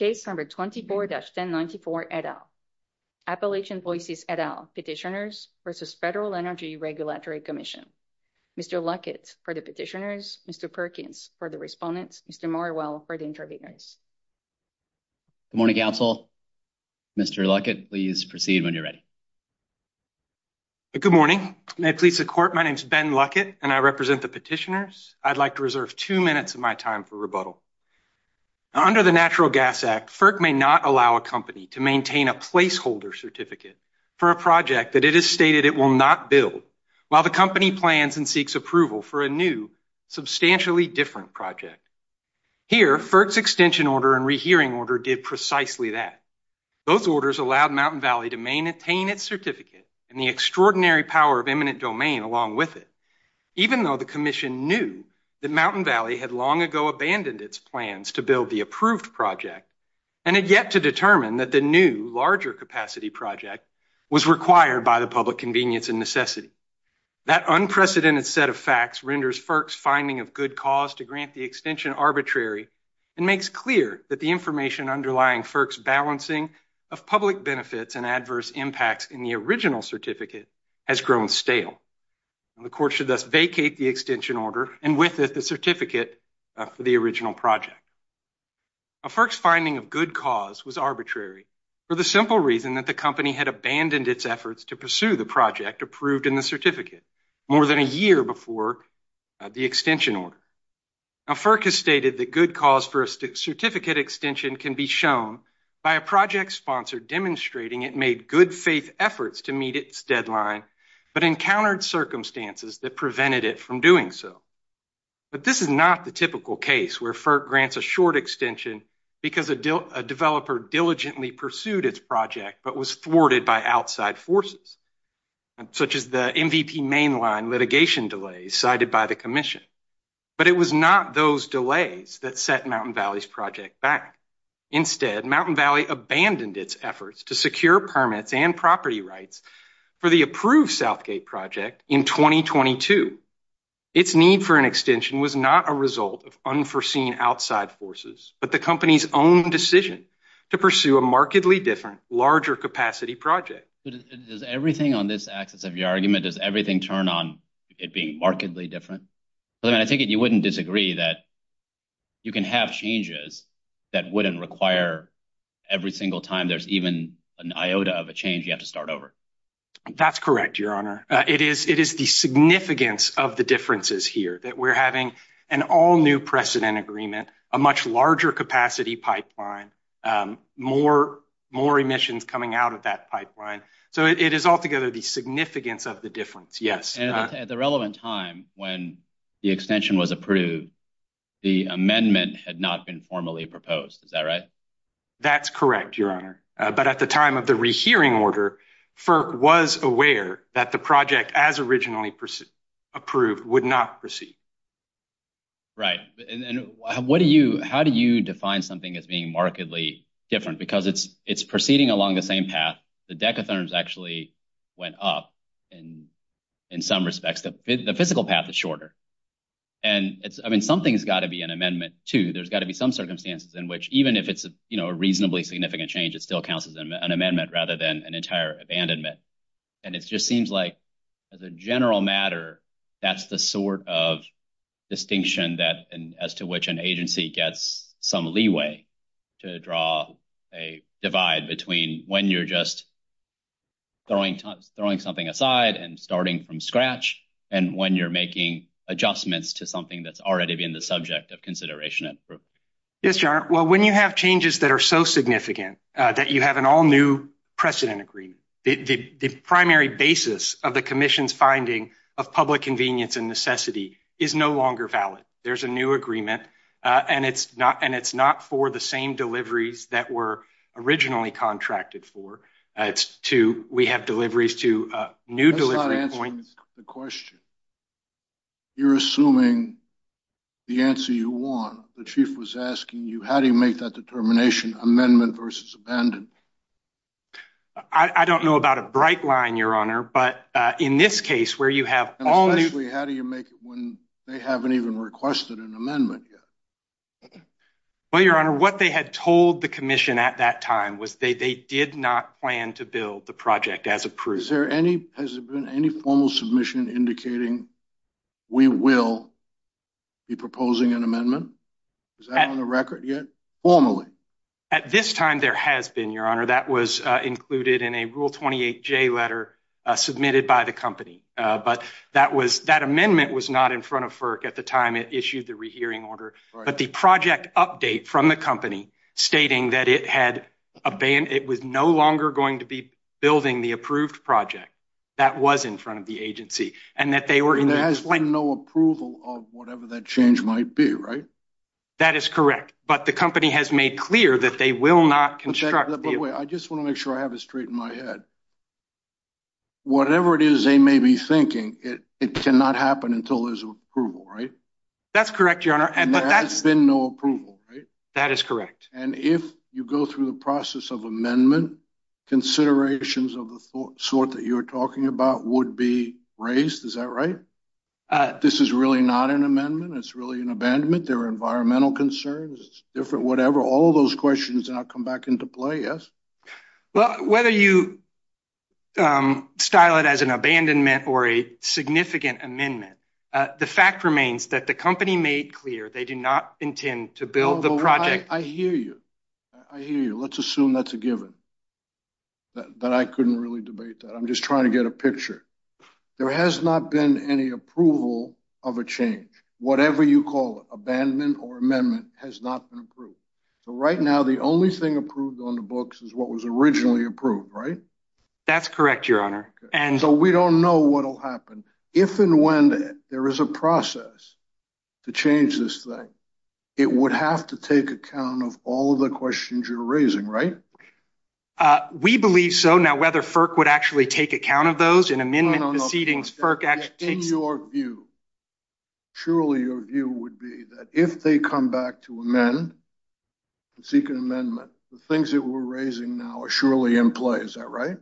24-1094 et al. Appalachian Voices et al. Petitioners v. Federal Energy Regulatory Commission. Mr. Luckett for the Petitioners. Mr. Perkins for the Respondents. Mr. Morrell for the Interveners. Good morning, Council. Mr. Luckett, please proceed when you're ready. Good morning. May it please the Court, my name is Ben Luckett, and I represent the Petitioners. I'd like to reserve two minutes of my time for rebuttal. Under the Natural Gas Act, FERC may not allow a company to maintain a placeholder certificate for a project that it has stated it will not build while the company plans and seeks approval for a new, substantially different project. Here, FERC's extension order and rehearing order did precisely that. Those orders allowed Mountain Valley to maintain its certificate and the extraordinary power of eminent domain along with it, even though the Commission knew that Mountain Valley had long ago abandoned its plans to build the approved project and had yet to determine that the new, larger-capacity project was required by the public convenience and necessity. That unprecedented set of facts renders FERC's finding of good cause to grant the extension arbitrary and makes clear that the information underlying FERC's balancing of public benefits and adverse impacts in the original certificate has grown stale. The Court should thus vacate the extension order and with it the certificate for the original project. FERC's finding of good cause was arbitrary for the simple reason that the company had abandoned its efforts to pursue the project approved in the certificate more than a year before the extension order. FERC has stated that good cause for a certificate extension can be shown by a project sponsor demonstrating it made good faith efforts to meet its deadline but encountered circumstances that prevented it from doing so. But this is not the typical case where FERC grants a short extension because a developer diligently pursued its project but was thwarted by outside forces, such as the MVP mainline litigation delays cited by the Commission. But it was not those delays that set Mountain Valley's project back. Instead, Mountain Valley abandoned its efforts to secure permits and property rights for the approved Southgate project in 2022. Its need for an extension was not a result of unforeseen outside forces but the company's own decision to pursue a markedly different, larger-capacity project. Does everything on this axis of your argument, does everything turn on it being markedly different? I think you wouldn't disagree that you can have changes that wouldn't require every single time there's even an iota of a change you have to start over. That's correct, Your Honor. It is the significance of the differences here that we're having an all-new precedent agreement, a much larger capacity pipeline, more emissions coming out of that pipeline. So it is altogether the significance of the difference, yes. At the relevant time when the extension was approved, the amendment had not been formally proposed. Is that right? That's correct, Your Honor. But at the time of the rehearing order, FERC was aware that the project as originally approved would not proceed. Right. And how do you define something as being markedly different? Because it's proceeding along the same path. The decatherms actually went up in some respects. The physical path is shorter. I mean, something's got to be an amendment, too. There's got to be some circumstances in which even if it's a reasonably significant change, it still counts as an amendment rather than an entire abandonment. And it just seems like as a general matter, that's the sort of distinction as to which an agency gets some leeway to draw a divide between when you're just throwing something aside and starting from scratch and when you're making adjustments to something that's already been the subject of consideration. Yes, Your Honor. Well, when you have changes that are so significant that you have an all new precedent agreement, the primary basis of the commission's finding of public convenience and necessity is no longer valid. There's a new agreement and it's not and it's not for the same deliveries that were originally contracted for. We have deliveries to new delivery points. That's not answering the question. You're assuming the answer you want. The chief was asking you, how do you make that determination, amendment versus abandonment? I don't know about a bright line, Your Honor, but in this case where you have all new... And especially how do you make it when they haven't even requested an amendment yet? Well, Your Honor, what they had told the commission at that time was they did not plan to build the project as approved. Has there been any formal submission indicating we will be proposing an amendment? Is that on the record yet, formally? At this time, there has been, Your Honor. That was included in a Rule 28J letter submitted by the company. But that amendment was not in front of FERC at the time it issued the rehearing order. But the project update from the company stating that it was no longer going to be building the approved project, that was in front of the agency and that they were... There has been no approval of whatever that change might be, right? That is correct. But the company has made clear that they will not construct... By the way, I just want to make sure I have it straight in my head. Whatever it is they may be thinking, it cannot happen until there's approval, right? That's correct, Your Honor. And there has been no approval, right? That is correct. And if you go through the process of amendment, considerations of the sort that you're talking about would be raised, is that right? This is really not an amendment. It's really an abandonment. There are environmental concerns. It's different, whatever. All of those questions now come back into play, yes? Well, whether you style it as an abandonment or a significant amendment, the fact remains that the company made clear they do not intend to build the project... I hear you. I hear you. Let's assume that's a given, that I couldn't really debate that. I'm just trying to get a picture. There has not been any approval of a change. Whatever you call it, abandonment or amendment, has not been approved. So right now, the only thing approved on the books is what was originally approved, right? That's correct, Your Honor. So we don't know what will happen. If and when there is a process to change this thing, it would have to take account of all of the questions you're raising, right? We believe so. Now, whether FERC would actually take account of those in amendment proceedings... No, no, no. In your view, surely your view would be that if they come back to amend and seek an amendment, the things that we're raising now are surely in play, is that right?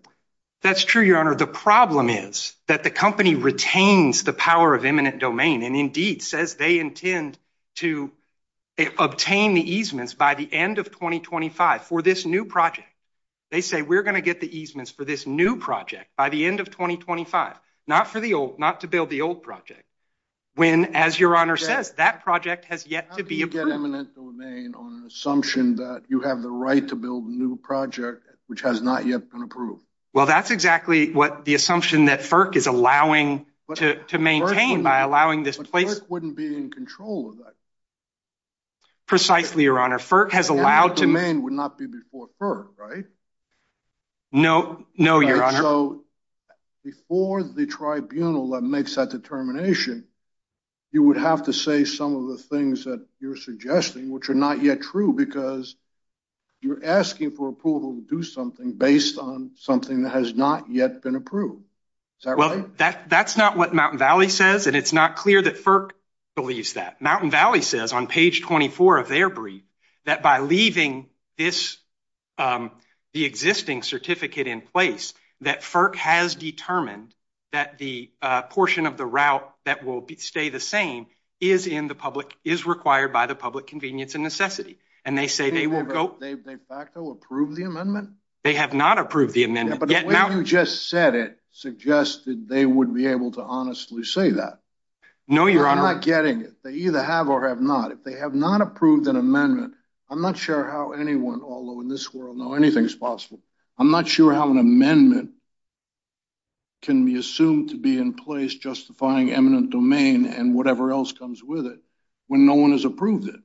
That's true, Your Honor. Your Honor, the problem is that the company retains the power of eminent domain and indeed says they intend to obtain the easements by the end of 2025 for this new project. They say, we're going to get the easements for this new project by the end of 2025, not to build the old project. When, as Your Honor says, that project has yet to be approved. How do you get eminent domain on an assumption that you have the right to build a new project, which has not yet been approved? Well, that's exactly what the assumption that FERC is allowing to maintain by allowing this place... But FERC wouldn't be in control of that. Precisely, Your Honor. FERC has allowed to... Eminent domain would not be before FERC, right? No, no, Your Honor. Before the tribunal that makes that determination, you would have to say some of the things that you're suggesting, which are not yet true, because you're asking for approval to do something based on something that has not yet been approved. Is that right? Well, that's not what Mountain Valley says, and it's not clear that FERC believes that. Mountain Valley says on page 24 of their brief that by leaving this, the existing certificate in place, that FERC has determined that the portion of the route that will stay the same is in the public, is required by the public convenience and necessity. And they say they will go... Have they de facto approved the amendment? They have not approved the amendment. But the way you just said it suggested they would be able to honestly say that. No, Your Honor. I'm not getting it. They either have or have not. If they have not approved an amendment, I'm not sure how anyone, although in this world, know anything is possible. I'm not sure how an amendment can be assumed to be in place justifying eminent domain and whatever else comes with it when no one has approved it.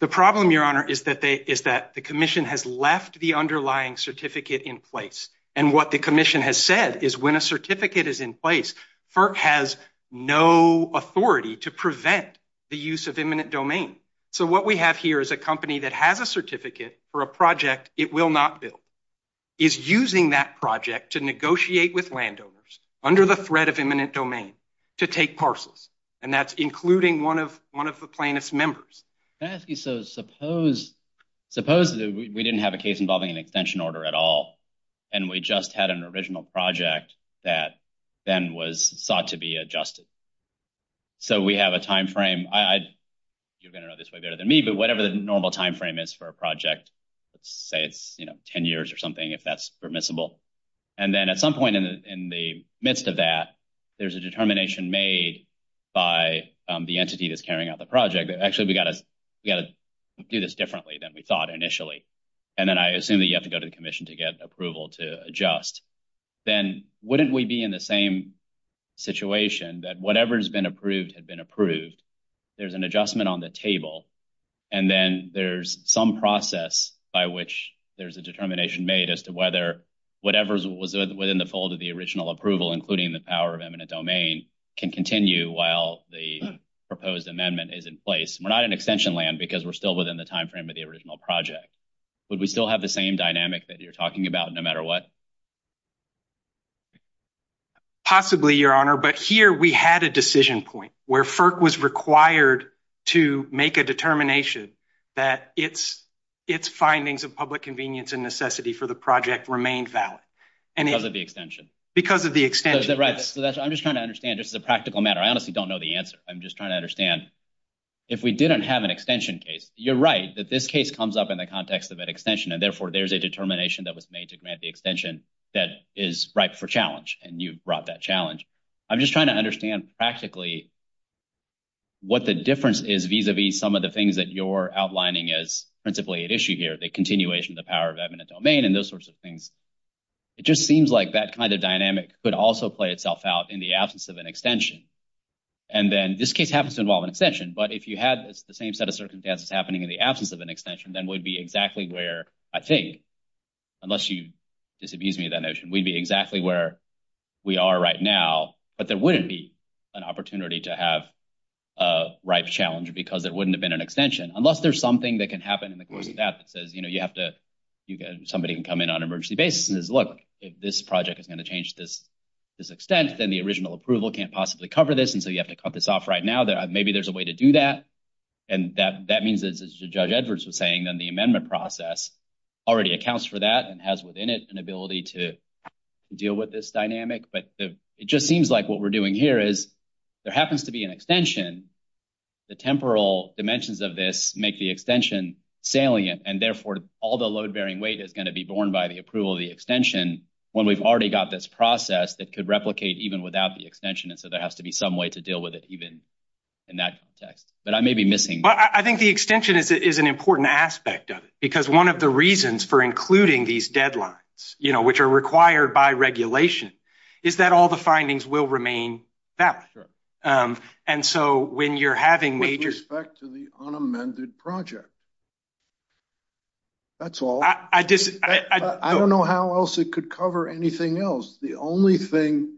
The problem, Your Honor, is that the commission has left the underlying certificate in place. And what the commission has said is when a certificate is in place, FERC has no authority to prevent the use of eminent domain. So what we have here is a company that has a certificate for a project it will not build is using that project to negotiate with landowners under the threat of eminent domain to take parcels. And that's including one of the plaintiff's members. Can I ask you, so suppose we didn't have a case involving an extension order at all. And we just had an original project that then was sought to be adjusted. So we have a time frame. You're going to know this way better than me, but whatever the normal time frame is for a project, let's say it's 10 years or something, if that's permissible. And then at some point in the midst of that, there's a determination made by the entity that's carrying out the project. Actually, we got to do this differently than we thought initially. And then I assume that you have to go to the commission to get approval to adjust. Then wouldn't we be in the same situation that whatever has been approved had been approved. There's an adjustment on the table. And then there's some process by which there's a determination made as to whether whatever was within the fold of the original approval, including the power of eminent domain, can continue while the proposed amendment is in place. We're not in extension land because we're still within the time frame of the original project. Would we still have the same dynamic that you're talking about no matter what? Possibly, Your Honor. But here we had a decision point where FERC was required to make a determination that its findings of public convenience and necessity for the project remained valid. Because of the extension. Because of the extension. Right. I'm just trying to understand. This is a practical matter. I honestly don't know the answer. I'm just trying to understand. If we didn't have an extension case, you're right that this case comes up in the context of an extension. And therefore, there's a determination that was made to grant the extension that is ripe for challenge. And you brought that challenge. I'm just trying to understand practically what the difference is vis-a-vis some of the things that you're outlining as principally at issue here. The continuation of the power of eminent domain and those sorts of things. It just seems like that kind of dynamic could also play itself out in the absence of an extension. And then this case happens to involve an extension. But if you had the same set of circumstances happening in the absence of an extension, then we'd be exactly where, I think, unless you disabuse me of that notion, we'd be exactly where we are right now. But there wouldn't be an opportunity to have a ripe challenge because there wouldn't have been an extension. Unless there's something that can happen in the course of that that says somebody can come in on an emergency basis and says, look, if this project is going to change this extent, then the original approval can't possibly cover this. And so you have to cut this off right now. Maybe there's a way to do that. And that means, as Judge Edwards was saying, then the amendment process already accounts for that and has within it an ability to deal with this dynamic. But it just seems like what we're doing here is there happens to be an extension. The temporal dimensions of this make the extension salient. And therefore, all the load bearing weight is going to be borne by the approval of the extension when we've already got this process that could replicate even without the extension. And so there has to be some way to deal with it, even in that context. But I may be missing. I think the extension is an important aspect of it because one of the reasons for including these deadlines, you know, which are required by regulation, is that all the findings will remain valid. And so when you're having major... With respect to the unamended project. That's all. I just... I don't know how else it could cover anything else. The only thing,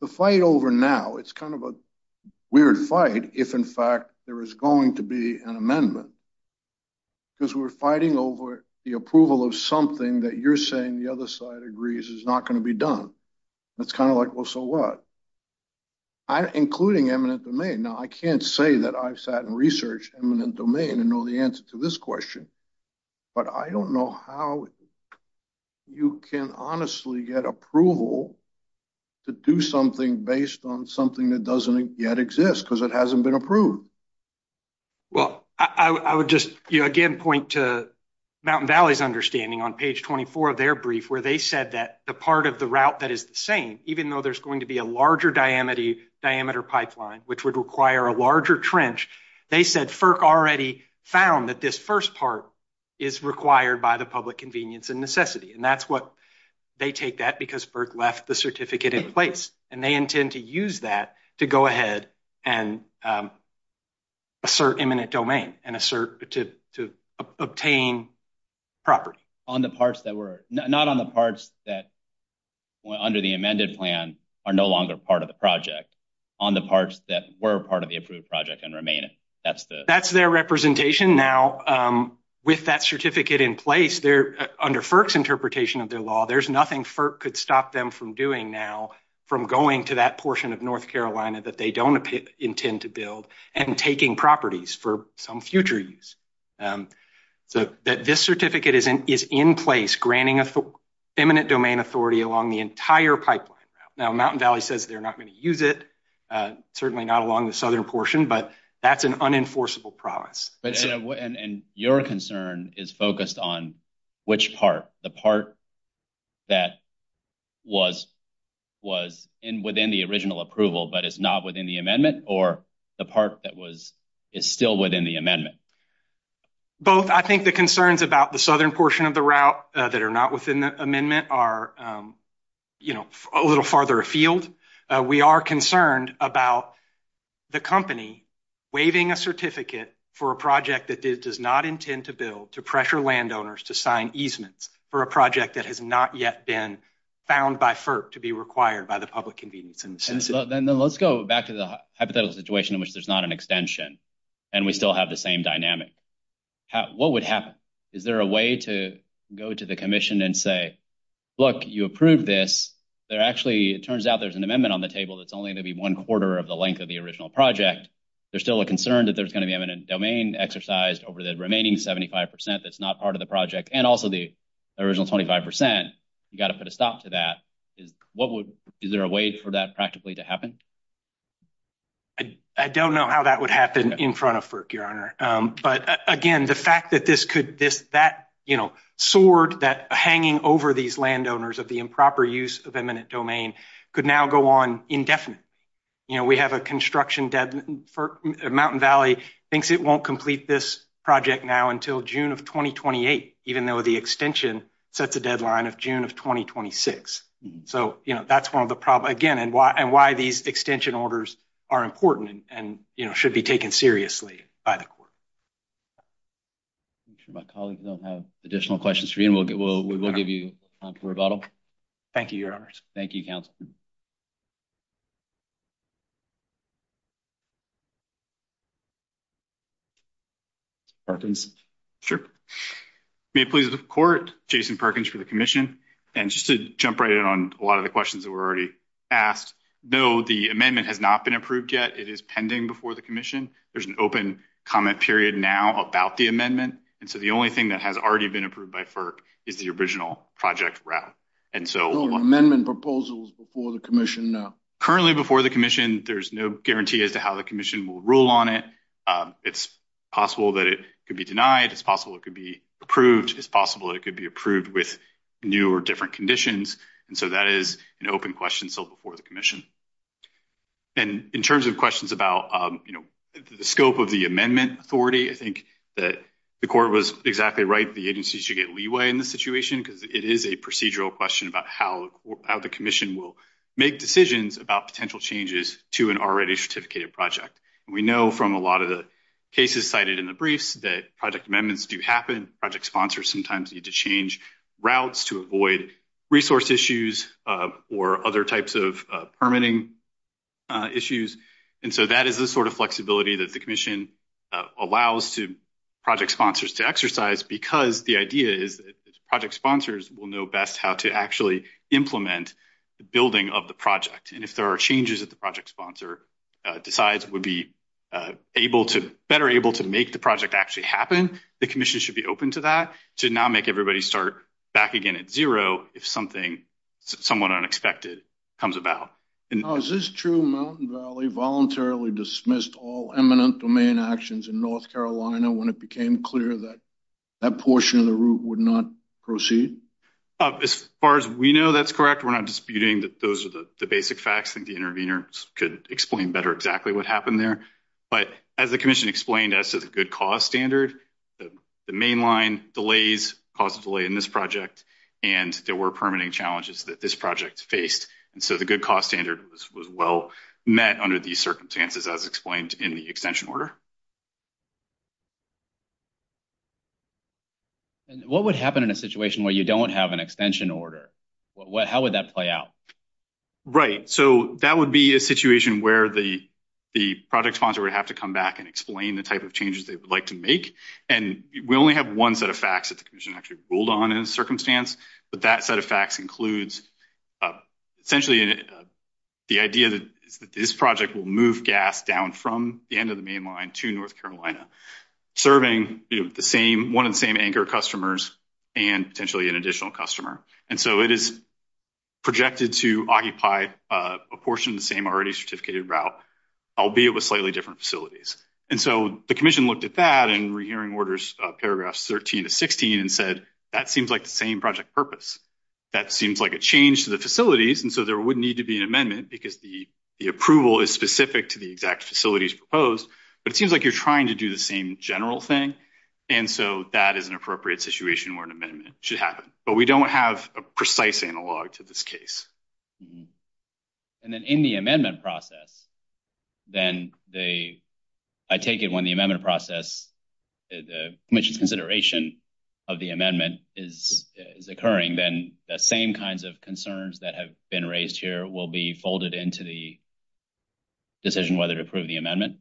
the fight over now, it's kind of a weird fight if, in fact, there is going to be an amendment. Because we're fighting over the approval of something that you're saying the other side agrees is not going to be done. It's kind of like, well, so what? Including eminent domain. Now, I can't say that I've sat and researched eminent domain and know the answer to this question. But I don't know how you can honestly get approval to do something based on something that doesn't yet exist because it hasn't been approved. Well, I would just again point to Mountain Valley's understanding on page 24 of their brief where they said that the part of the route that is the same, even though there's going to be a larger diameter pipeline, which would require a larger trench. They said FERC already found that this first part is required by the public convenience and necessity. They take that because FERC left the certificate in place. And they intend to use that to go ahead and assert eminent domain and assert to obtain property. Not on the parts that under the amended plan are no longer part of the project. On the parts that were part of the approved project and remain it. That's their representation. Now, with that certificate in place, under FERC's interpretation of their law, there's nothing FERC could stop them from doing now from going to that portion of North Carolina that they don't intend to build and taking properties for some future use. So this certificate is in place granting eminent domain authority along the entire pipeline route. Now, Mountain Valley says they're not going to use it, certainly not along the southern portion. But that's an unenforceable promise. And your concern is focused on which part? The part that was was in within the original approval, but it's not within the amendment or the part that was is still within the amendment. Both I think the concerns about the southern portion of the route that are not within the amendment are, you know, a little farther afield. We are concerned about the company waiving a certificate for a project that it does not intend to build to pressure landowners to sign easements for a project that has not yet been found by FERC to be required by the public convenience. And then let's go back to the hypothetical situation in which there's not an extension and we still have the same dynamic. What would happen? Is there a way to go to the commission and say, look, you approve this there? Actually, it turns out there's an amendment on the table that's only going to be one quarter of the length of the original project. There's still a concern that there's going to be eminent domain exercised over the remaining 75 percent. That's not part of the project and also the original 25 percent. You've got to put a stop to that. Is what is there a way for that practically to happen? I don't know how that would happen in front of FERC, Your Honor. But again, the fact that this could this that, you know, sword that hanging over these landowners of the improper use of eminent domain could now go on indefinite. You know, we have a construction for Mountain Valley thinks it won't complete this project now until June of 2028, even though the extension sets a deadline of June of 2026. So, you know, that's one of the problem again and why and why these extension orders are important and should be taken seriously by the court. My colleagues don't have additional questions for you and we'll get we'll we will give you a bottle. Thank you, Your Honor. Thank you, counsel. Yeah, I think. Sure. May it please the court Jason Perkins for the commission and just to jump right in on a lot of the questions that were already asked. Though the amendment has not been approved yet. It is pending before the commission. There's an open comment period now about the amendment. And so the only thing that has already been approved by FERC is the original project route. And so amendment proposals before the commission. Currently, before the commission, there's no guarantee as to how the commission will rule on it. It's possible that it could be denied as possible. It could be approved as possible. It could be approved with new or different conditions. And so that is an open question. So, before the commission. And in terms of questions about, you know, the scope of the amendment authority, I think that the court was exactly right. The agency should get leeway in the situation because it is a procedural question about how the commission will make decisions about potential changes to an already certificated project. We know from a lot of the cases cited in the briefs that project amendments do happen project sponsors sometimes need to change routes to avoid resource issues or other types of permitting issues. And so that is the sort of flexibility that the commission allows to project sponsors to exercise because the idea is project sponsors will know best how to actually implement the building of the project. And if there are changes that the project sponsor decides would be able to better able to make the project actually happen, the commission should be open to that to now make everybody start back again at zero. If something. Somewhat unexpected comes about. Is this true mountain valley voluntarily dismissed all eminent domain actions in North Carolina when it became clear that. That portion of the route would not proceed. As far as we know, that's correct. We're not disputing that. Those are the basic facts. I think the intervener could explain better exactly what happened there. But, as the commission explained as to the good cost standard. The main line delays possibly in this project, and there were permitting challenges that this project faced. And so the good cost standard was well met under these circumstances as explained in the extension order. What would happen in a situation where you don't have an extension order? How would that play out? Right. So that would be a situation where the. The product sponsor would have to come back and explain the type of changes they would like to make. And we only have 1 set of facts that the commission actually rolled on in a circumstance. But that set of facts includes essentially. The idea that this project will move gas down from the end of the main line to North Carolina. Serving the same 1 and same anchor customers. And potentially an additional customer, and so it is. And so the commission looked at that and rehearing orders, paragraphs, 13 to 16 and said, that seems like the same project purpose. That seems like a change to the facilities and so there would need to be an amendment because the. The approval is specific to the exact facilities proposed, but it seems like you're trying to do the same general thing. And so that is an appropriate situation where an amendment should happen, but we don't have a precise analog to this case. And then in the amendment process. Then they, I take it when the amendment process. The commission's consideration of the amendment is occurring, then the same kinds of concerns that have been raised here will be folded into the. Decision whether to approve the amendment.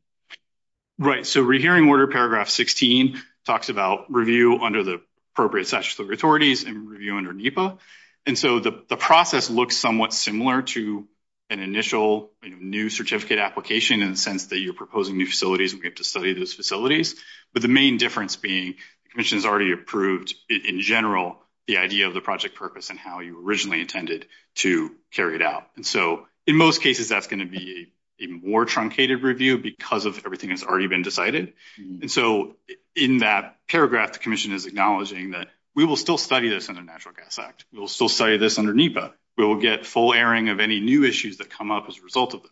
Right, so we're hearing order paragraph 16 talks about review under the appropriate statutory authorities and review under NEPA. And so the process looks somewhat similar to an initial new certificate application in the sense that you're proposing new facilities. We have to study those facilities, but the main difference being the commission's already approved in general, the idea of the project purpose and how you originally intended to carry it out. And so, in most cases, that's going to be a more truncated review because of everything that's already been decided. And so, in that paragraph, the commission is acknowledging that we will still study this under natural gas act. We'll still say this under NEPA. We will get full airing of any new issues that come up as a result of it.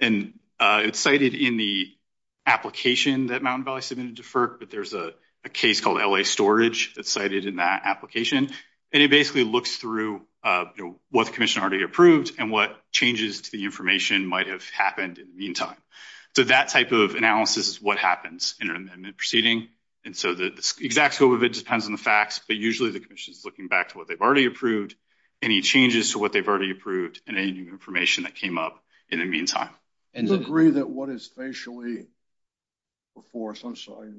And it's cited in the application that Mountain Valley submitted to FERC, but there's a case called LA storage that's cited in that application. And it basically looks through what the commission already approved and what changes to the information might have happened in the meantime. So, that type of analysis is what happens in an amendment proceeding. And so the exact scope of it depends on the facts, but usually the commission is looking back to what they've already approved, any changes to what they've already approved, and any new information that came up in the meantime. Do you agree that what is facially before us, I'm sorry,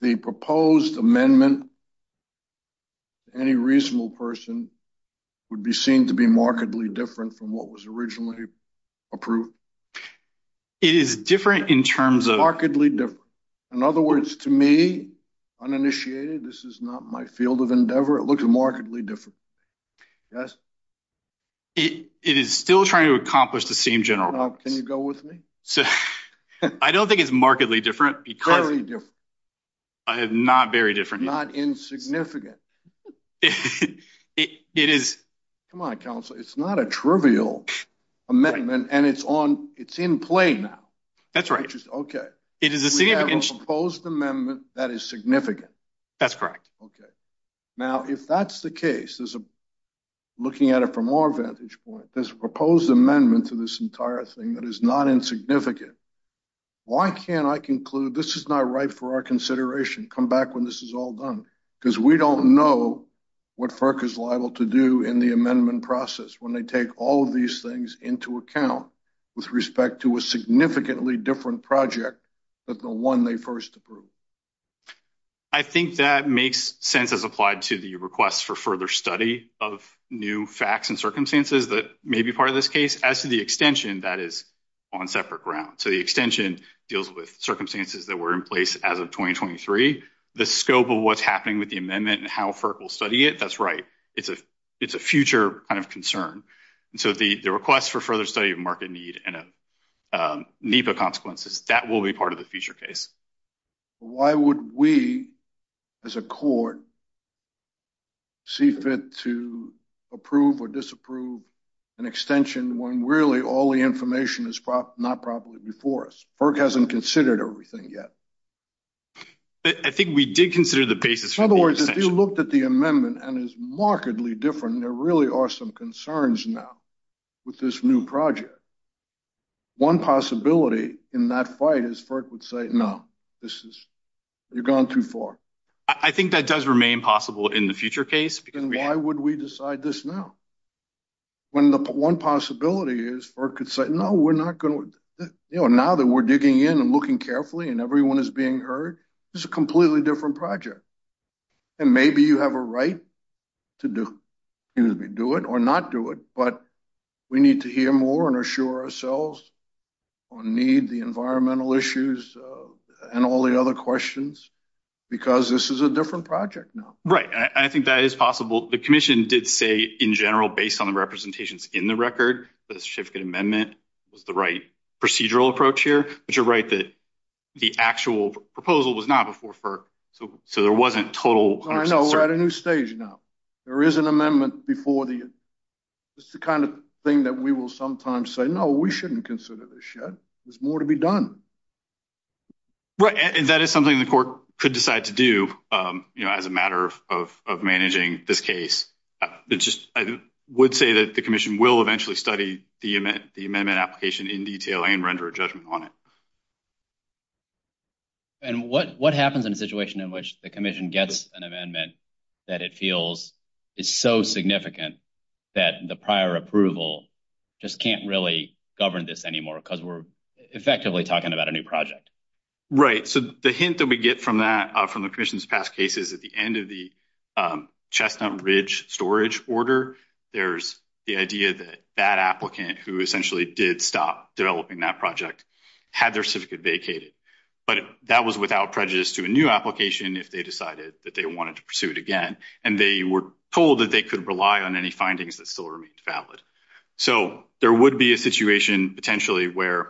the proposed amendment to any reasonable person would be seen to be markedly different from what was originally approved? It is different in terms of... Markedly different. In other words, to me, uninitiated, this is not my field of endeavor. It looks markedly different. Yes? It is still trying to accomplish the same general... Can you go with me? I don't think it's markedly different because... Very different. Not very different. Not insignificant. It is... Come on, Counselor, it's not a trivial amendment and it's on, it's in play now. That's right. Okay. It is a significant... We have a proposed amendment that is significant. That's correct. Okay. Now, if that's the case, there's a... Looking at it from our vantage point, there's a proposed amendment to this entire thing that is not insignificant. Why can't I conclude this is not right for our consideration, come back when this is all done? Because we don't know what FERC is liable to do in the amendment process when they take all of these things into account with respect to a significantly different project than the one they first approved. I think that makes sense as applied to the request for further study of new facts and circumstances that may be part of this case. As to the extension, that is on separate grounds. So the extension deals with circumstances that were in place as of 2023. The scope of what's happening with the amendment and how FERC will study it, that's right. It's a future kind of concern. So the request for further study of market need and NEPA consequences, that will be part of the future case. Why would we, as a court, see fit to approve or disapprove an extension when really all the information is not properly before us? FERC hasn't considered everything yet. I think we did consider the basis for the extension. If you looked at the amendment and it's markedly different, there really are some concerns now with this new project. One possibility in that fight is FERC would say, no, this is, you've gone too far. I think that does remain possible in the future case. Then why would we decide this now? When the one possibility is FERC could say, no, we're not going to, now that we're digging in and looking carefully and everyone is being heard, this is a completely different project. And maybe you have a right to do it or not do it. But we need to hear more and assure ourselves on need, the environmental issues, and all the other questions, because this is a different project now. Right. I think that is possible. The commission did say, in general, based on the representations in the record, the certificate amendment was the right procedural approach here. But you're right that the actual proposal was not before FERC. So there wasn't total. I know we're at a new stage now. There is an amendment before the, it's the kind of thing that we will sometimes say, no, we shouldn't consider this yet. There's more to be done. Right. And that is something the court could decide to do, you know, as a matter of managing this case. I would say that the commission will eventually study the amendment application in detail and render a judgment on it. And what happens in a situation in which the commission gets an amendment that it feels is so significant that the prior approval just can't really govern this anymore because we're effectively talking about a new project? Right. So the hint that we get from that, from the commission's past cases, at the end of the Chestnut Ridge storage order, there's the idea that that applicant who essentially did stop developing that project had their certificate vacated. But that was without prejudice to a new application if they decided that they wanted to pursue it again. And they were told that they could rely on any findings that still remained valid. So there would be a situation potentially where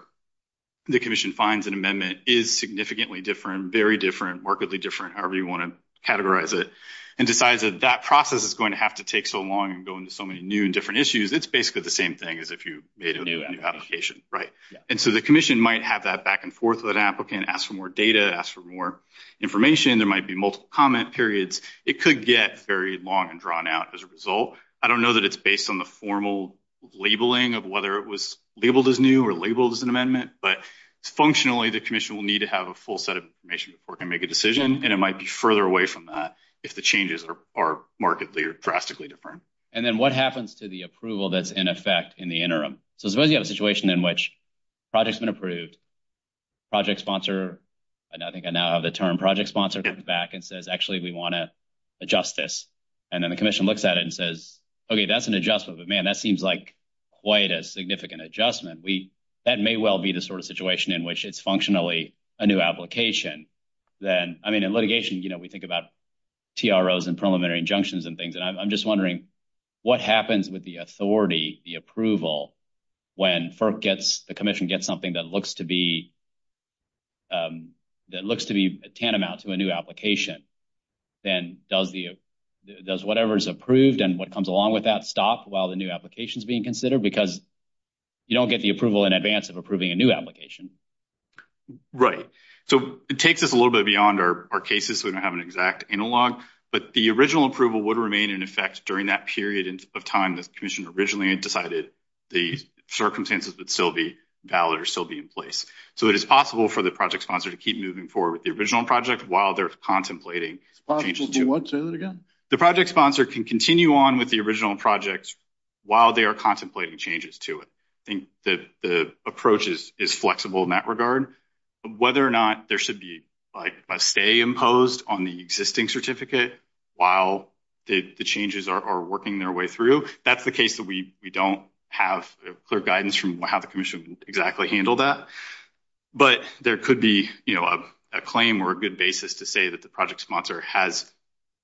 the commission finds an amendment is significantly different, very different, markedly different, however you want to categorize it, and decides that that process is going to have to take so long and go into so many new and different issues. It's basically the same thing as if you made a new application. Right. And so the commission might have that back and forth with an applicant, ask for more data, ask for more information. There might be multiple comment periods. It could get very long and drawn out as a result. I don't know that it's based on the formal labeling of whether it was labeled as new or labeled as an amendment, but functionally the commission will need to have a full set of information before it can make a decision, and it might be further away from that if the changes are markedly or drastically different. And then what happens to the approval that's in effect in the interim? So suppose you have a situation in which a project's been approved, project sponsor, and I think I now have the term project sponsor, comes back and says, actually, we want to adjust this. And then the commission looks at it and says, okay, that's an adjustment. But, man, that seems like quite a significant adjustment. That may well be the sort of situation in which it's functionally a new application. Then, I mean, in litigation, you know, we think about TROs and preliminary injunctions and things, and I'm just wondering what happens with the authority, the approval, when FERC gets the commission gets something that looks to be a tantamount to a new application. Then does whatever is approved and what comes along with that stop while the new application is being considered? Because you don't get the approval in advance of approving a new application. Right. So it takes us a little bit beyond our cases so we don't have an exact analog, but the original approval would remain in effect during that period of time the commission originally decided that the circumstances would still be valid or still be in place. So it is possible for the project sponsor to keep moving forward with the original project while they're contemplating changes to it. It's possible to what? Say that again. The project sponsor can continue on with the original project while they are contemplating changes to it. I think the approach is flexible in that regard. Whether or not there should be, like, a stay imposed on the existing certificate while the changes are working their way through, that's the case that we don't have clear guidance from how the commission exactly handled that. But there could be, you know, a claim or a good basis to say that the project sponsor has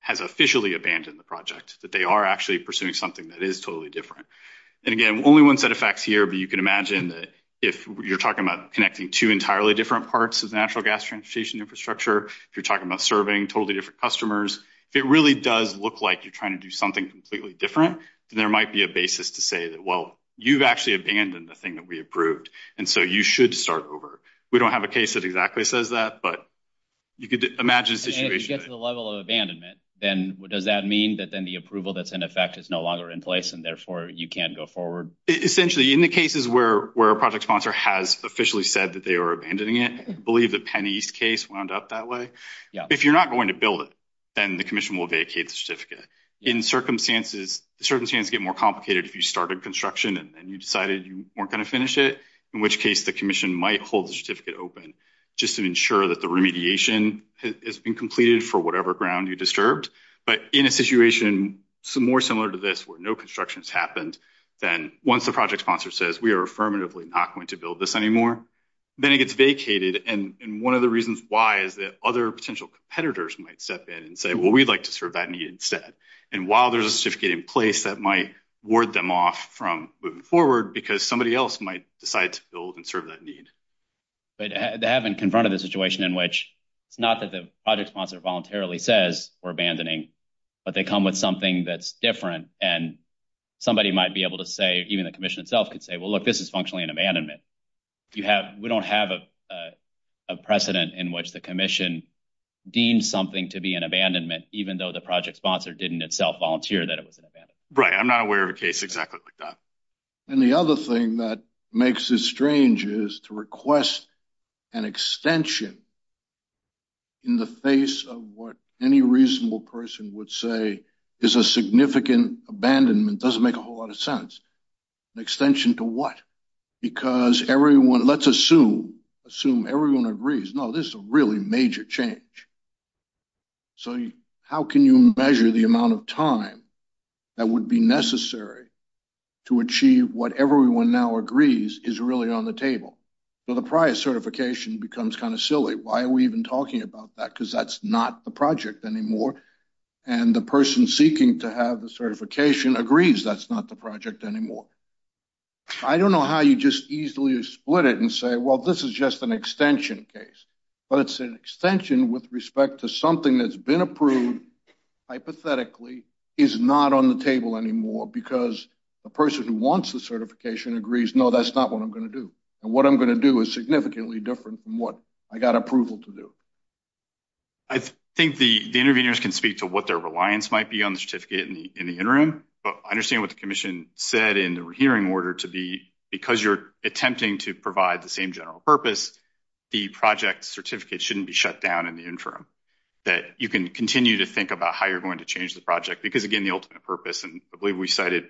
officially abandoned the project, that they are actually pursuing something that is totally different. And, again, only one set of facts here, but you can imagine that if you're talking about connecting two entirely different parts of the natural gas transportation infrastructure, if you're talking about serving totally different customers, if it really does look like you're trying to do something completely different, then there might be a basis to say that, well, you've actually abandoned the thing that we approved, and so you should start over. We don't have a case that exactly says that, but you could imagine a situation. And if you get to the level of abandonment, then does that mean that then the approval that's in effect is no longer in place, and therefore you can't go forward? Essentially, in the cases where a project sponsor has officially said that they are abandoning it, I believe the Penn East case wound up that way. If you're not going to build it, then the commission will vacate the certificate. In circumstances, the circumstances get more complicated if you started construction and then you decided you weren't going to finish it, in which case the commission might hold the certificate open just to ensure that the remediation has been completed for whatever ground you disturbed. But in a situation more similar to this where no construction has happened, then once the project sponsor says we are affirmatively not going to build this anymore, then it gets vacated. And one of the reasons why is that other potential competitors might step in and say, well, we'd like to serve that need instead. And while there's a certificate in place, that might ward them off from moving forward because somebody else might decide to build and serve that need. But they haven't confronted the situation in which it's not that the project sponsor voluntarily says we're abandoning, but they come with something that's different, and somebody might be able to say, even the commission itself could say, well, look, this is functionally an abandonment. We don't have a precedent in which the commission deems something to be an abandonment, even though the project sponsor didn't itself volunteer that it was an abandonment. Right. I'm not aware of a case exactly like that. And the other thing that makes it strange is to request an extension in the face of what any reasonable person would say is a significant abandonment. It doesn't make a whole lot of sense. Extension to what? Because everyone, let's assume, assume everyone agrees, no, this is a really major change. So how can you measure the amount of time that would be necessary to achieve what everyone now agrees is really on the table? So the prior certification becomes kind of silly. Why are we even talking about that? Because that's not the project anymore, and the person seeking to have the certification agrees that's not the project anymore. I don't know how you just easily split it and say, well, this is just an extension case. But it's an extension with respect to something that's been approved, hypothetically, is not on the table anymore because the person who wants the certification agrees, no, that's not what I'm going to do. And what I'm going to do is significantly different from what I got approval to do. I think the interveners can speak to what their reliance might be on the certificate in the interim. But I understand what the commission said in the hearing order to be, because you're attempting to provide the same general purpose, the project certificate shouldn't be shut down in the interim, that you can continue to think about how you're going to change the project. Because, again, the ultimate purpose, and I believe we cited,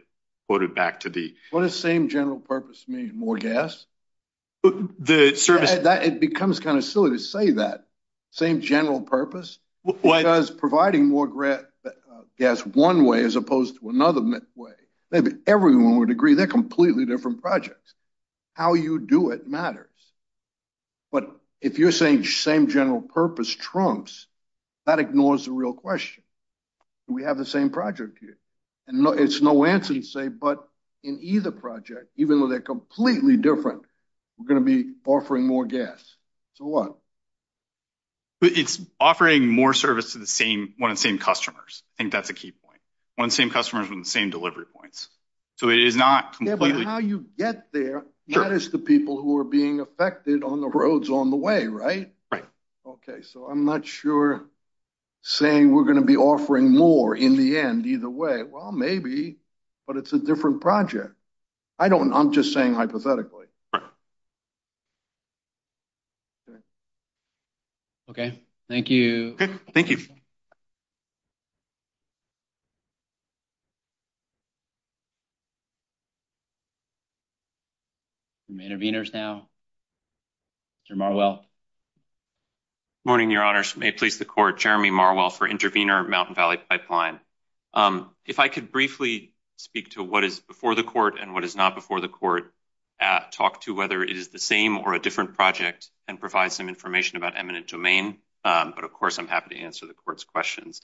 quoted back to the. What does same general purpose mean? More gas? It becomes kind of silly to say that. Same general purpose? Because providing more gas one way as opposed to another way, maybe everyone would agree, they're completely different projects. How you do it matters. But if you're saying same general purpose trumps, that ignores the real question. Do we have the same project here? It's no answer to say, but in either project, even though they're completely different, we're going to be offering more gas. So what? It's offering more service to the same, one of the same customers. I think that's a key point. One of the same customers with the same delivery points. So it is not completely. Yeah, but how you get there, that is the people who are being affected on the roads on the way, right? Right. Okay, so I'm not sure saying we're going to be offering more in the end either way. Well, maybe, but it's a different project. I don't know. I'm just saying hypothetically. Okay. Thank you. Intervenors now. Good morning, Your Honors. May it please the Court, Jeremy Marwell for Intervenor Mountain Valley Pipeline. If I could briefly speak to what is before the Court and what is not before the Court, talk to whether it is the same or a different project and provide some information about eminent domain. But, of course, I'm happy to answer the Court's questions.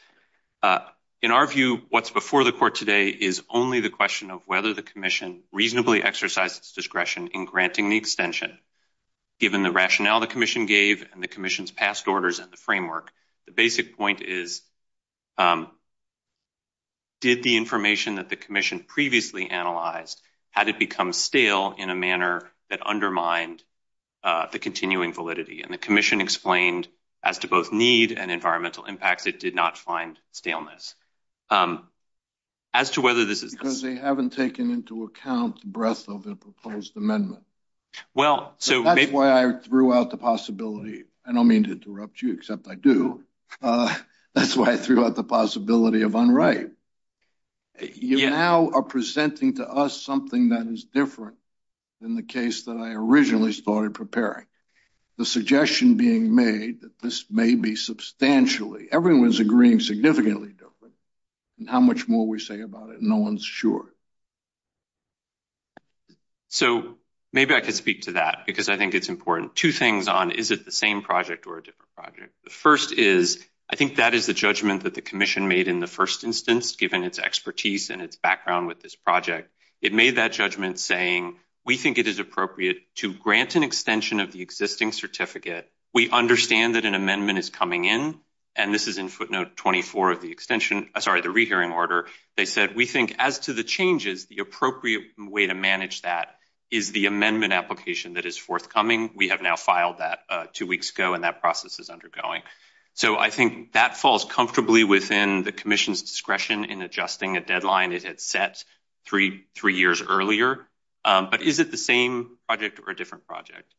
In our view, what's before the Court today is only the question of whether the Commission reasonably exercised its discretion in granting the extension. Given the rationale the Commission gave and the Commission's past orders and the framework, the basic point is, did the information that the Commission previously analyzed, had it become stale in a manner that undermined the continuing validity? And the Commission explained as to both need and environmental impacts, it did not find staleness. As to whether this is because they haven't taken into account the breadth of the proposed amendment. That's why I threw out the possibility. I don't mean to interrupt you, except I do. That's why I threw out the possibility of unright. You now are presenting to us something that is different than the case that I originally started preparing. The suggestion being made that this may be substantially, everyone's agreeing, significantly different. And how much more we say about it, no one's sure. So maybe I could speak to that, because I think it's important. Two things on, is it the same project or a different project? The first is, I think that is the judgment that the Commission made in the first instance, given its expertise and its background with this project. It made that judgment saying, we think it is appropriate to grant an extension of the existing certificate. We understand that an amendment is coming in. And this is in footnote 24 of the extension, sorry, the rehearing order. They said, we think as to the changes, the appropriate way to manage that is the amendment application that is forthcoming. We have now filed that two weeks ago, and that process is undergoing. So I think that falls comfortably within the Commission's discretion in adjusting a deadline it had set three years earlier. But is it the same project or a different project?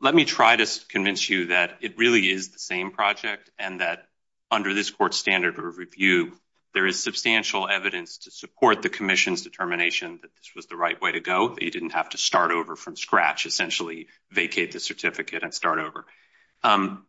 Let me try to convince you that it really is the same project, and that under this Court's standard of review, there is substantial evidence to support the Commission's determination that this was the right way to go, that you didn't have to start over from scratch, essentially vacate the certificate and start over.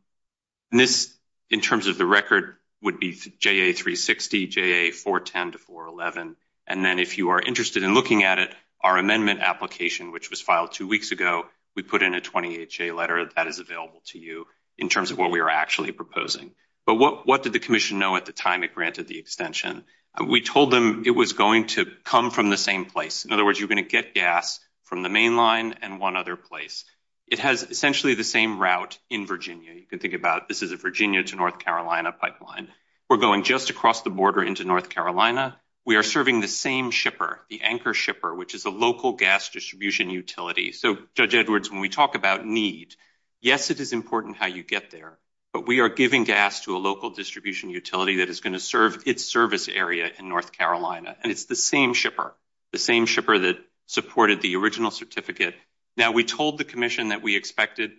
This, in terms of the record, would be JA360, JA410 to 411. And then if you are interested in looking at it, our amendment application, which was filed two weeks ago, we put in a 20HA letter that is available to you in terms of what we are actually proposing. But what did the Commission know at the time it granted the extension? We told them it was going to come from the same place. In other words, you're going to get gas from the main line and one other place. It has essentially the same route in Virginia. You can think about this as a Virginia to North Carolina pipeline. We're going just across the border into North Carolina. We are serving the same shipper, the anchor shipper, which is a local gas distribution utility. So, Judge Edwards, when we talk about need, yes, it is important how you get there. But we are giving gas to a local distribution utility that is going to serve its service area in North Carolina. And it's the same shipper, the same shipper that supported the original certificate. Now, we told the Commission that we expected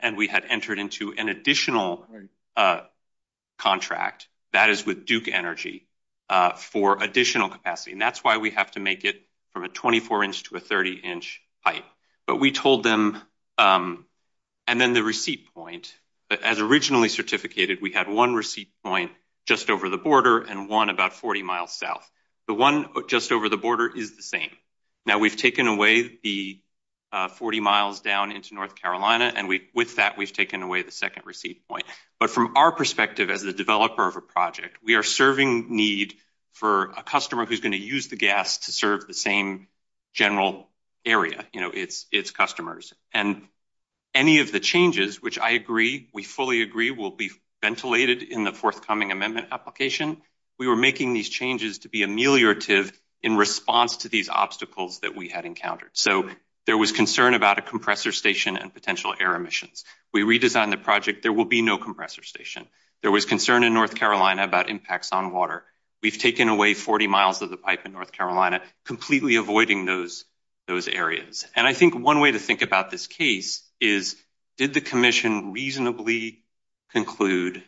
and we had entered into an additional contract, that is with Duke Energy, for additional capacity. And that's why we have to make it from a 24-inch to a 30-inch pipe. But we told them, and then the receipt point, as originally certificated, we had one receipt point just over the border and one about 40 miles south. The one just over the border is the same. Now, we've taken away the 40 miles down into North Carolina, and with that we've taken away the second receipt point. But from our perspective as the developer of a project, we are serving need for a customer who's going to use the gas to serve the same general area, its customers. And any of the changes, which I agree, we fully agree, will be ventilated in the forthcoming amendment application. We were making these changes to be ameliorative in response to these obstacles that we had encountered. So there was concern about a compressor station and potential air emissions. We redesigned the project. There will be no compressor station. There was concern in North Carolina about impacts on water. We've taken away 40 miles of the pipe in North Carolina, completely avoiding those areas. And I think one way to think about this case is, did the commission reasonably conclude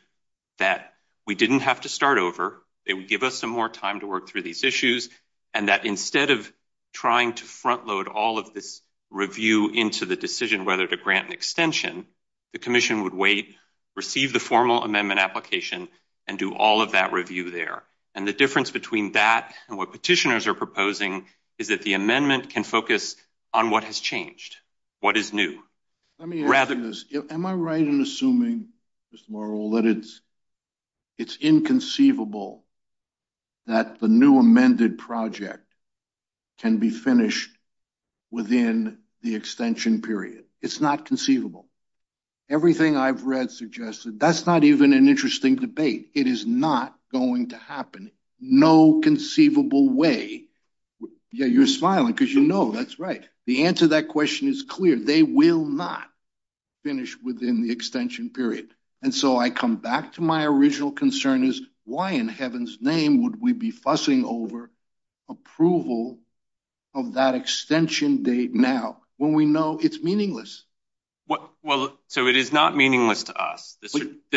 that we didn't have to start over, they would give us some more time to work through these issues, and that instead of trying to front load all of this review into the decision whether to grant an extension, the commission would wait, receive the formal amendment application, and do all of that review there. And the difference between that and what petitioners are proposing is that the amendment can focus on what has changed, what is new. Let me ask you this. Am I right in assuming, Mr. Morrill, that it's inconceivable that the new amended project can be finished within the extension period? It's not conceivable. Everything I've read suggests that that's not even an interesting debate. It is not going to happen. No conceivable way. Yeah, you're smiling because you know that's right. The answer to that question is clear. They will not finish within the extension period. And so I come back to my original concern is, why in heaven's name would we be fussing over approval of that extension date now, when we know it's meaningless? Well, so it is not meaningless to us.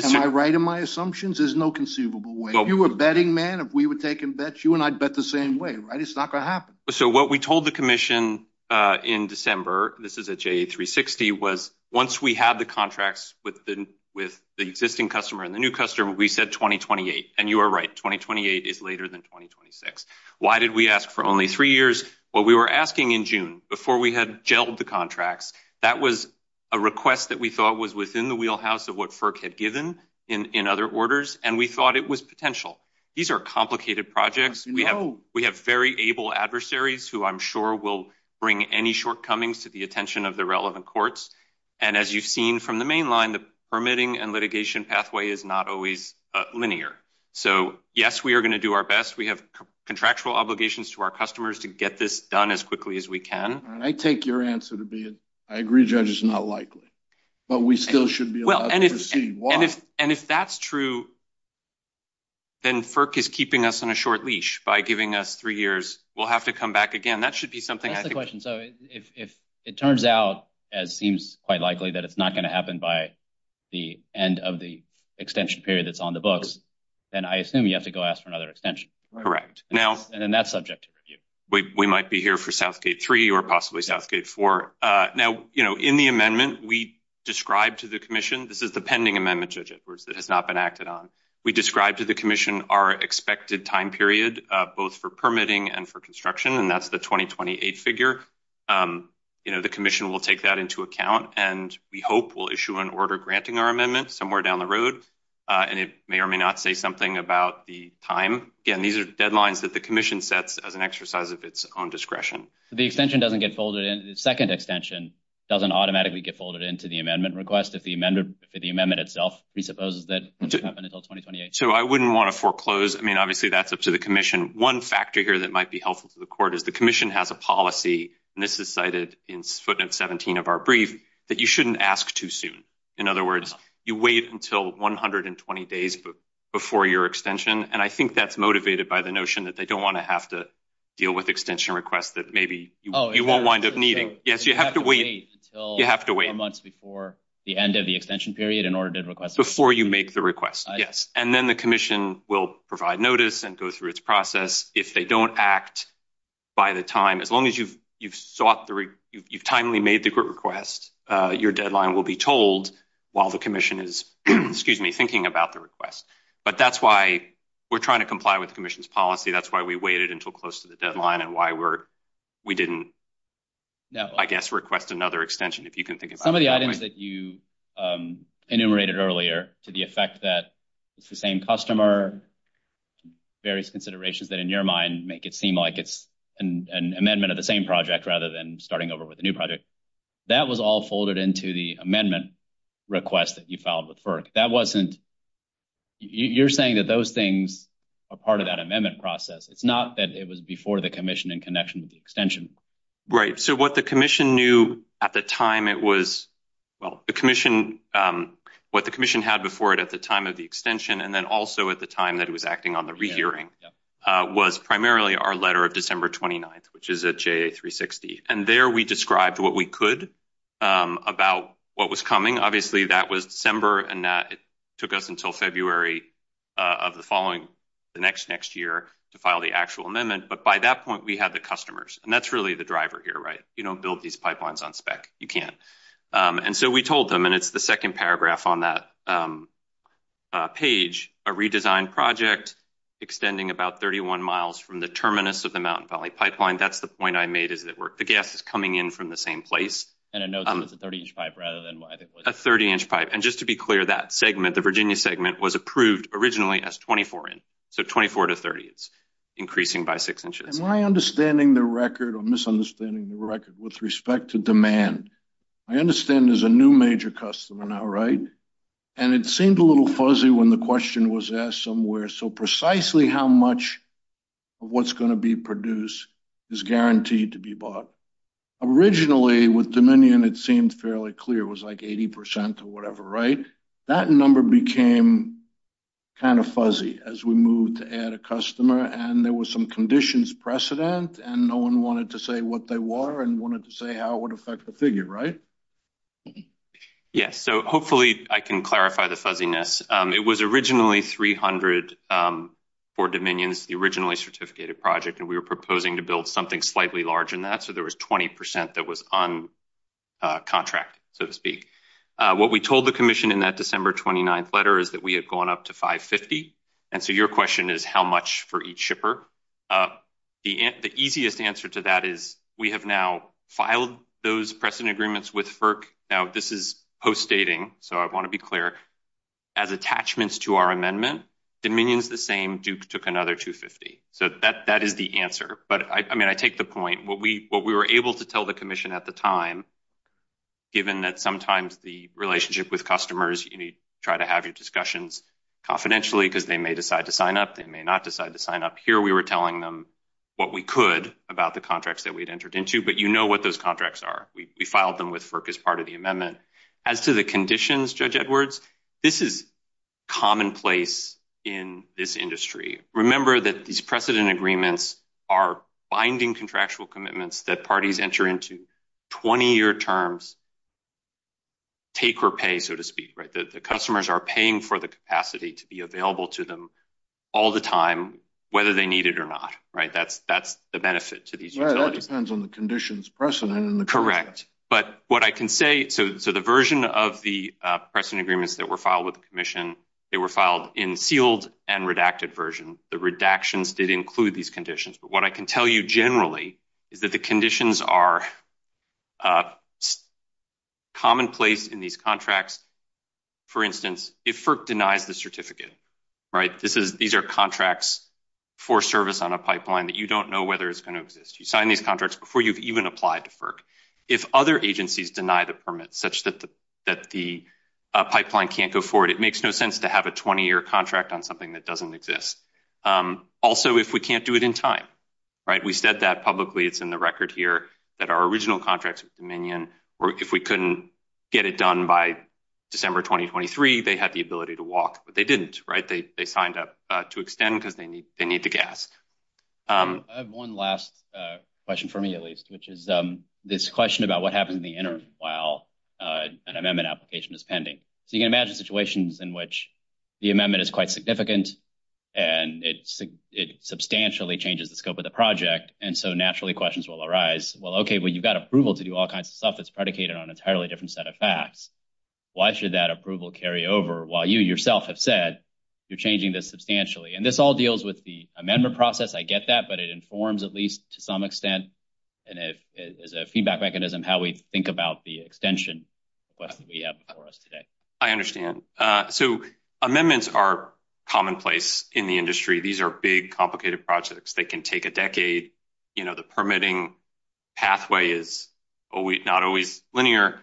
Am I right in my assumptions? There's no conceivable way. If you were a betting man, if we were taking bets, you and I'd bet the same way, right? It's not going to happen. So what we told the commission in December, this is at JA360, was once we had the contracts with the existing customer and the new customer, we said 2028. And you are right. 2028 is later than 2026. Why did we ask for only three years? Well, we were asking in June before we had gelled the contracts. That was a request that we thought was within the wheelhouse of what FERC had given in other orders. And we thought it was potential. These are complicated projects. We have very able adversaries who I'm sure will bring any shortcomings to the attention of the relevant courts. And as you've seen from the main line, the permitting and litigation pathway is not always linear. So, yes, we are going to do our best. We have contractual obligations to our customers to get this done as quickly as we can. And I take your answer to be it. I agree judges are not likely, but we still should be allowed to proceed. And if that's true, then FERC is keeping us on a short leash by giving us three years. We'll have to come back again. That should be something. That's the question. So if it turns out, as seems quite likely that it's not going to happen by the end of the extension period that's on the books, then I assume you have to go ask for another extension. Correct. Now, and then that's subject to review. We might be here for Southgate 3 or possibly Southgate 4. Now, you know, in the amendment we described to the commission, this is the pending amendment, Judge Edwards, that has not been acted on. We described to the commission our expected time period, both for permitting and for construction, and that's the 2028 figure. You know, the commission will take that into account, and we hope we'll issue an order granting our amendment somewhere down the road. And it may or may not say something about the time. Again, these are deadlines that the commission sets as an exercise of its own discretion. The extension doesn't get folded in. The second extension doesn't automatically get folded into the amendment request if the amendment itself presupposes that it will happen until 2028. So I wouldn't want to foreclose. I mean, obviously, that's up to the commission. One factor here that might be helpful to the court is the commission has a policy, and this is cited in footnote 17 of our brief, that you shouldn't ask too soon. In other words, you wait until 120 days before your extension. And I think that's motivated by the notion that they don't want to have to deal with extension requests that maybe you won't wind up needing. Yes, you have to wait. You have to wait months before the end of the extension period in order to request before you make the request. Yes. And then the commission will provide notice and go through its process. If they don't act by the time, as long as you've sought, you've timely made the request, your deadline will be told while the commission is thinking about the request. But that's why we're trying to comply with the commission's policy. That's why we waited until close to the deadline and why we didn't, I guess, request another extension. Some of the items that you enumerated earlier to the effect that it's the same customer, various considerations that in your mind make it seem like it's an amendment of the same project rather than starting over with a new project. That was all folded into the amendment request that you filed with FERC. That wasn't, you're saying that those things are part of that amendment process. It's not that it was before the commission in connection with the extension. Right. So what the commission knew at the time it was, well, the commission, what the commission had before it at the time of the extension and then also at the time that it was acting on the rehearing was primarily our letter of December 29th, which is a J360. And there we described what we could about what was coming. Obviously, that was December and that took us until February of the following the next next year to file the actual amendment. But by that point, we had the customers and that's really the driver here. Right? You don't build these pipelines on spec. You can't. And so we told them, and it's the 2nd paragraph on that page, a redesigned project, extending about 31 miles from the terminus of the mountain valley pipeline. That's the point I made is that the gas is coming in from the same place. And I know it's a 30 inch pipe rather than a 30 inch pipe. And just to be clear, that segment, the Virginia segment was approved originally as 24 in. So, 24 to 30, it's increasing by 6 inches. Am I understanding the record or misunderstanding the record with respect to demand? I understand there's a new major customer now, right? And it seemed a little fuzzy when the question was asked somewhere. So precisely how much of what's going to be produced is guaranteed to be bought. Yes, so hopefully I can clarify the fuzziness. It was originally 300 for dominions, the originally certificated project, and we were proposing to build something slightly large in that. So there was 12,000. The easiest answer to that is we have now filed those precedent agreements with. Now, this is postdating. So I want to be clear as attachments to our amendment dominions. The same Duke took another 250. so that that is the answer. But, I mean, I take the point. What we, what we were able to do. We were able to tell the commission at the time, given that sometimes the relationship with customers, you need to try to have your discussions confidentially because they may decide to sign up. They may not decide to sign up here. We were telling them what we could about the contracts that we'd entered into. But you know what those contracts are. We filed them with FERC as part of the amendment. As to the conditions, Judge Edwards, this is commonplace in this industry. Remember that these precedent agreements are binding contractual commitments that parties enter into 20 year terms. Take or pay, so to speak, right? The customers are paying for the capacity to be available to them. All the time, whether they need it or not, right? That's that's the benefit to these depends on the conditions precedent in the correct. But what I can say, so so the version of the precedent agreements that were filed with the commission, they were filed in sealed and redacted version. The redactions did include these conditions, but what I can tell you generally is that the conditions are commonplace in these contracts. For instance, if FERC denies the certificate, right, this is these are contracts for service on a pipeline that you don't know whether it's going to exist. You sign these contracts before you've even applied to FERC. If other agencies deny the permit such that the pipeline can't go forward, it makes no sense to have a 20 year contract on something that doesn't exist. Also, if we can't do it in time. Right. We said that publicly, it's in the record here that our original contracts with Dominion, or if we couldn't get it done by December 2023, they had the ability to walk, but they didn't. Right. They signed up to extend because they need they need the gas. I have one last question for me, at least, which is this question about what happens in the interim while an amendment application is pending. So you can imagine situations in which the amendment is quite significant and it's it substantially changes the scope of the project. And so naturally questions will arise. Well, OK, well, you've got approval to do all kinds of stuff that's predicated on entirely different set of facts. Why should that approval carry over while you yourself have said you're changing this substantially? And this all deals with the amendment process. I get that. But it informs at least to some extent. And if it is a feedback mechanism, how we think about the extension request that we have for us today. I understand. So amendments are commonplace in the industry. These are big, complicated projects that can take a decade. You know, the permitting pathway is not always linear.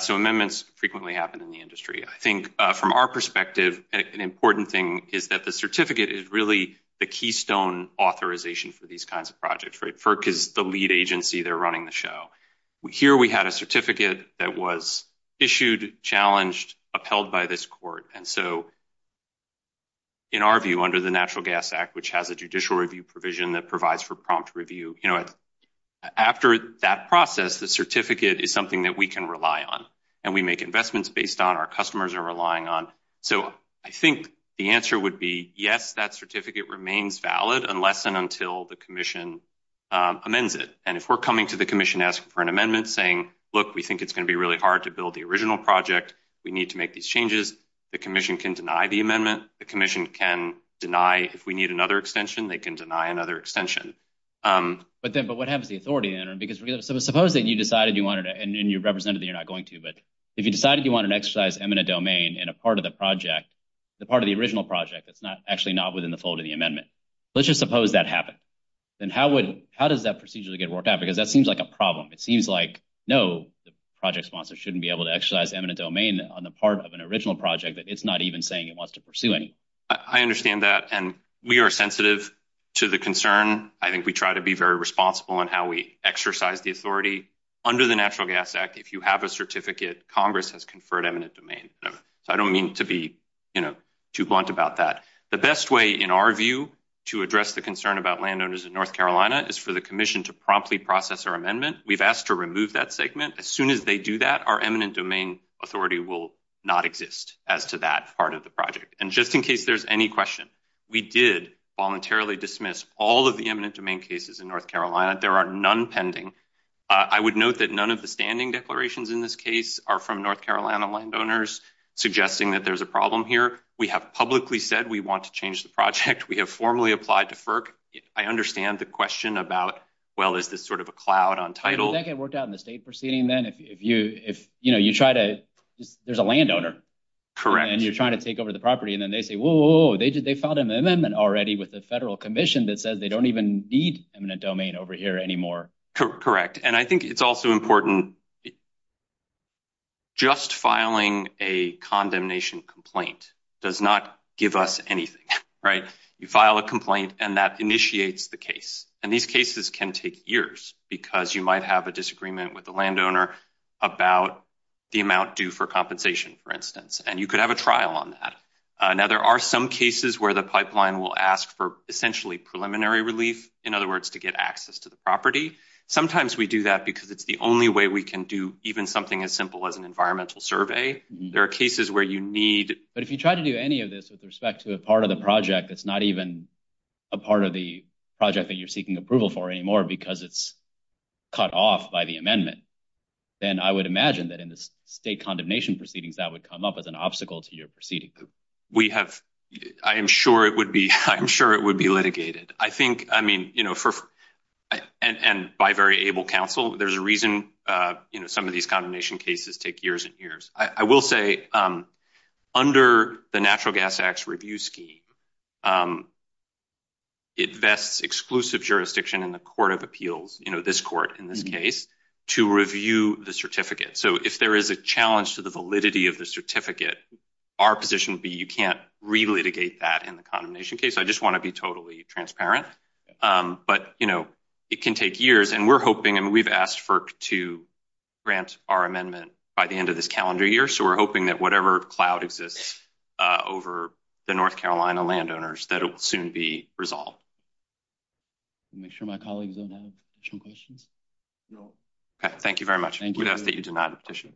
So amendments frequently happen in the industry. I think from our perspective, an important thing is that the certificate is really the keystone authorization for these kinds of projects. Right. FERC is the lead agency. They're running the show. Here we had a certificate that was issued, challenged, upheld by this court. And so. In our view, under the Natural Gas Act, which has a judicial review provision that provides for prompt review after that process, the certificate is something that we can rely on and we make investments based on our customers are relying on. So I think the answer would be, yes, that certificate remains valid unless and until the commission amends it. And if we're coming to the commission asking for an amendment saying, look, we think it's going to be really hard to build the original project. We need to make these changes. The commission can deny the amendment. The commission can deny if we need another extension. They can deny another extension. But then but what happens, the authority? Because suppose that you decided you wanted and you represented that you're not going to. But if you decided you want to exercise eminent domain and a part of the project, the part of the original project, it's not actually not within the fold of the amendment. Let's just suppose that happened. Then how would how does that procedurally get worked out? Because that seems like a problem. It seems like, no, the project sponsor shouldn't be able to exercise eminent domain on the part of an original project that it's not even saying it wants to pursue. I understand that. And we are sensitive to the concern. I think we try to be very responsible in how we exercise the authority under the Natural Gas Act. If you have a certificate, Congress has conferred eminent domain. So I don't mean to be too blunt about that. The best way, in our view, to address the concern about landowners in North Carolina is for the commission to promptly process our amendment. We've asked to remove that segment as soon as they do that. Our eminent domain authority will not exist as to that part of the project. And just in case there's any question, we did voluntarily dismiss all of the eminent domain cases in North Carolina. There are none pending. I would note that none of the standing declarations in this case are from North Carolina landowners suggesting that there's a problem here. We have publicly said we want to change the project. We have formally applied to FERC. I understand the question about, well, is this sort of a cloud on title? Does that get worked out in the state proceeding, then, if you try to – there's a landowner. Correct. And you're trying to take over the property, and then they say, whoa, they filed an amendment already with the federal commission that says they don't even need eminent domain over here anymore. Correct. And I think it's also important – just filing a condemnation complaint does not give us anything. You file a complaint, and that initiates the case. And these cases can take years because you might have a disagreement with the landowner about the amount due for compensation, for instance, and you could have a trial on that. Now, there are some cases where the pipeline will ask for essentially preliminary relief, in other words, to get access to the property. Sometimes we do that because it's the only way we can do even something as simple as an environmental survey. There are cases where you need – But if you try to do any of this with respect to a part of the project that's not even a part of the project that you're seeking approval for anymore because it's cut off by the amendment, then I would imagine that in the state condemnation proceedings, that would come up as an obstacle to your proceeding. I am sure it would be litigated. And by very able counsel, there's a reason some of these condemnation cases take years and years. I will say, under the Natural Gas Act's review scheme, it vests exclusive jurisdiction in the court of appeals, this court in this case, to review the certificate. So if there is a challenge to the validity of the certificate, our position would be you can't re-litigate that in the condemnation case. I just want to be totally transparent. But, you know, it can take years, and we're hoping – and we've asked FERC to grant our amendment by the end of this calendar year. So we're hoping that whatever cloud exists over the North Carolina landowners, that it will soon be resolved. Make sure my colleagues don't have additional questions. Thank you very much. We ask that you do not petition.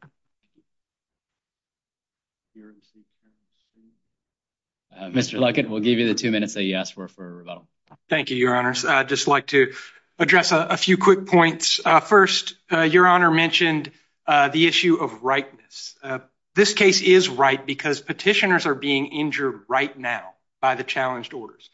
Mr. Luckett, we'll give you the two minutes that you asked for for rebuttal. Thank you, Your Honors. I'd just like to address a few quick points. First, Your Honor mentioned the issue of rightness. This case is right because petitioners are being injured right now by the challenged orders.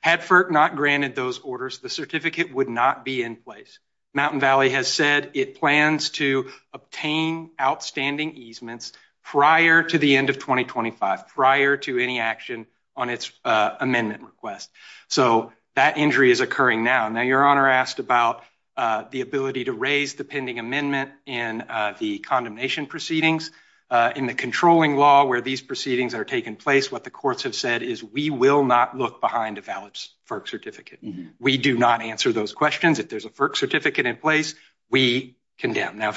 Had FERC not granted those orders, the certificate would not be in place. Mountain Valley has said it plans to obtain outstanding easements prior to the end of 2025, prior to any action on its amendment request. So that injury is occurring now. Now, Your Honor asked about the ability to raise the pending amendment in the condemnation proceedings. In the controlling law where these proceedings are taking place, what the courts have said is we will not look behind a valid FERC certificate. We do not answer those questions. If there's a FERC certificate in place, we condemn. Now,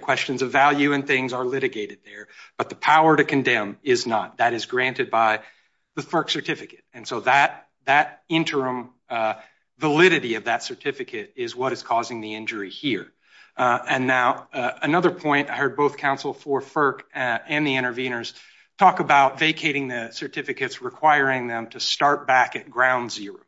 questions of value and things are litigated there, but the power to condemn is not. That is granted by the FERC certificate. And so that interim validity of that certificate is what is causing the injury here. And now another point, I heard both counsel for FERC and the interveners talk about vacating the certificates, requiring them to start back at ground zero.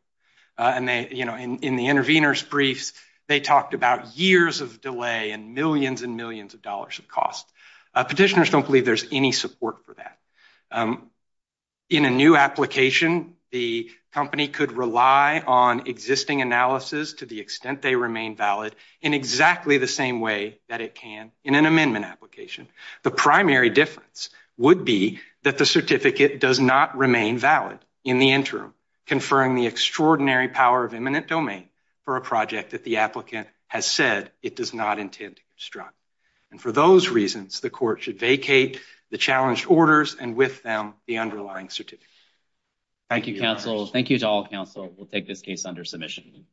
And they, you know, in the interveners briefs, they talked about years of delay and millions and millions of dollars of cost. Petitioners don't believe there's any support for that. In a new application, the company could rely on existing analysis to the extent they remain valid in exactly the same way that it can in an amendment application. The primary difference would be that the certificate does not remain valid in the interim, conferring the extraordinary power of eminent domain for a project that the applicant has said it does not intend to construct. And for those reasons, the court should vacate the challenged orders and with them the underlying certificate. Thank you, counsel. Thank you to all counsel. We'll take this case under submission.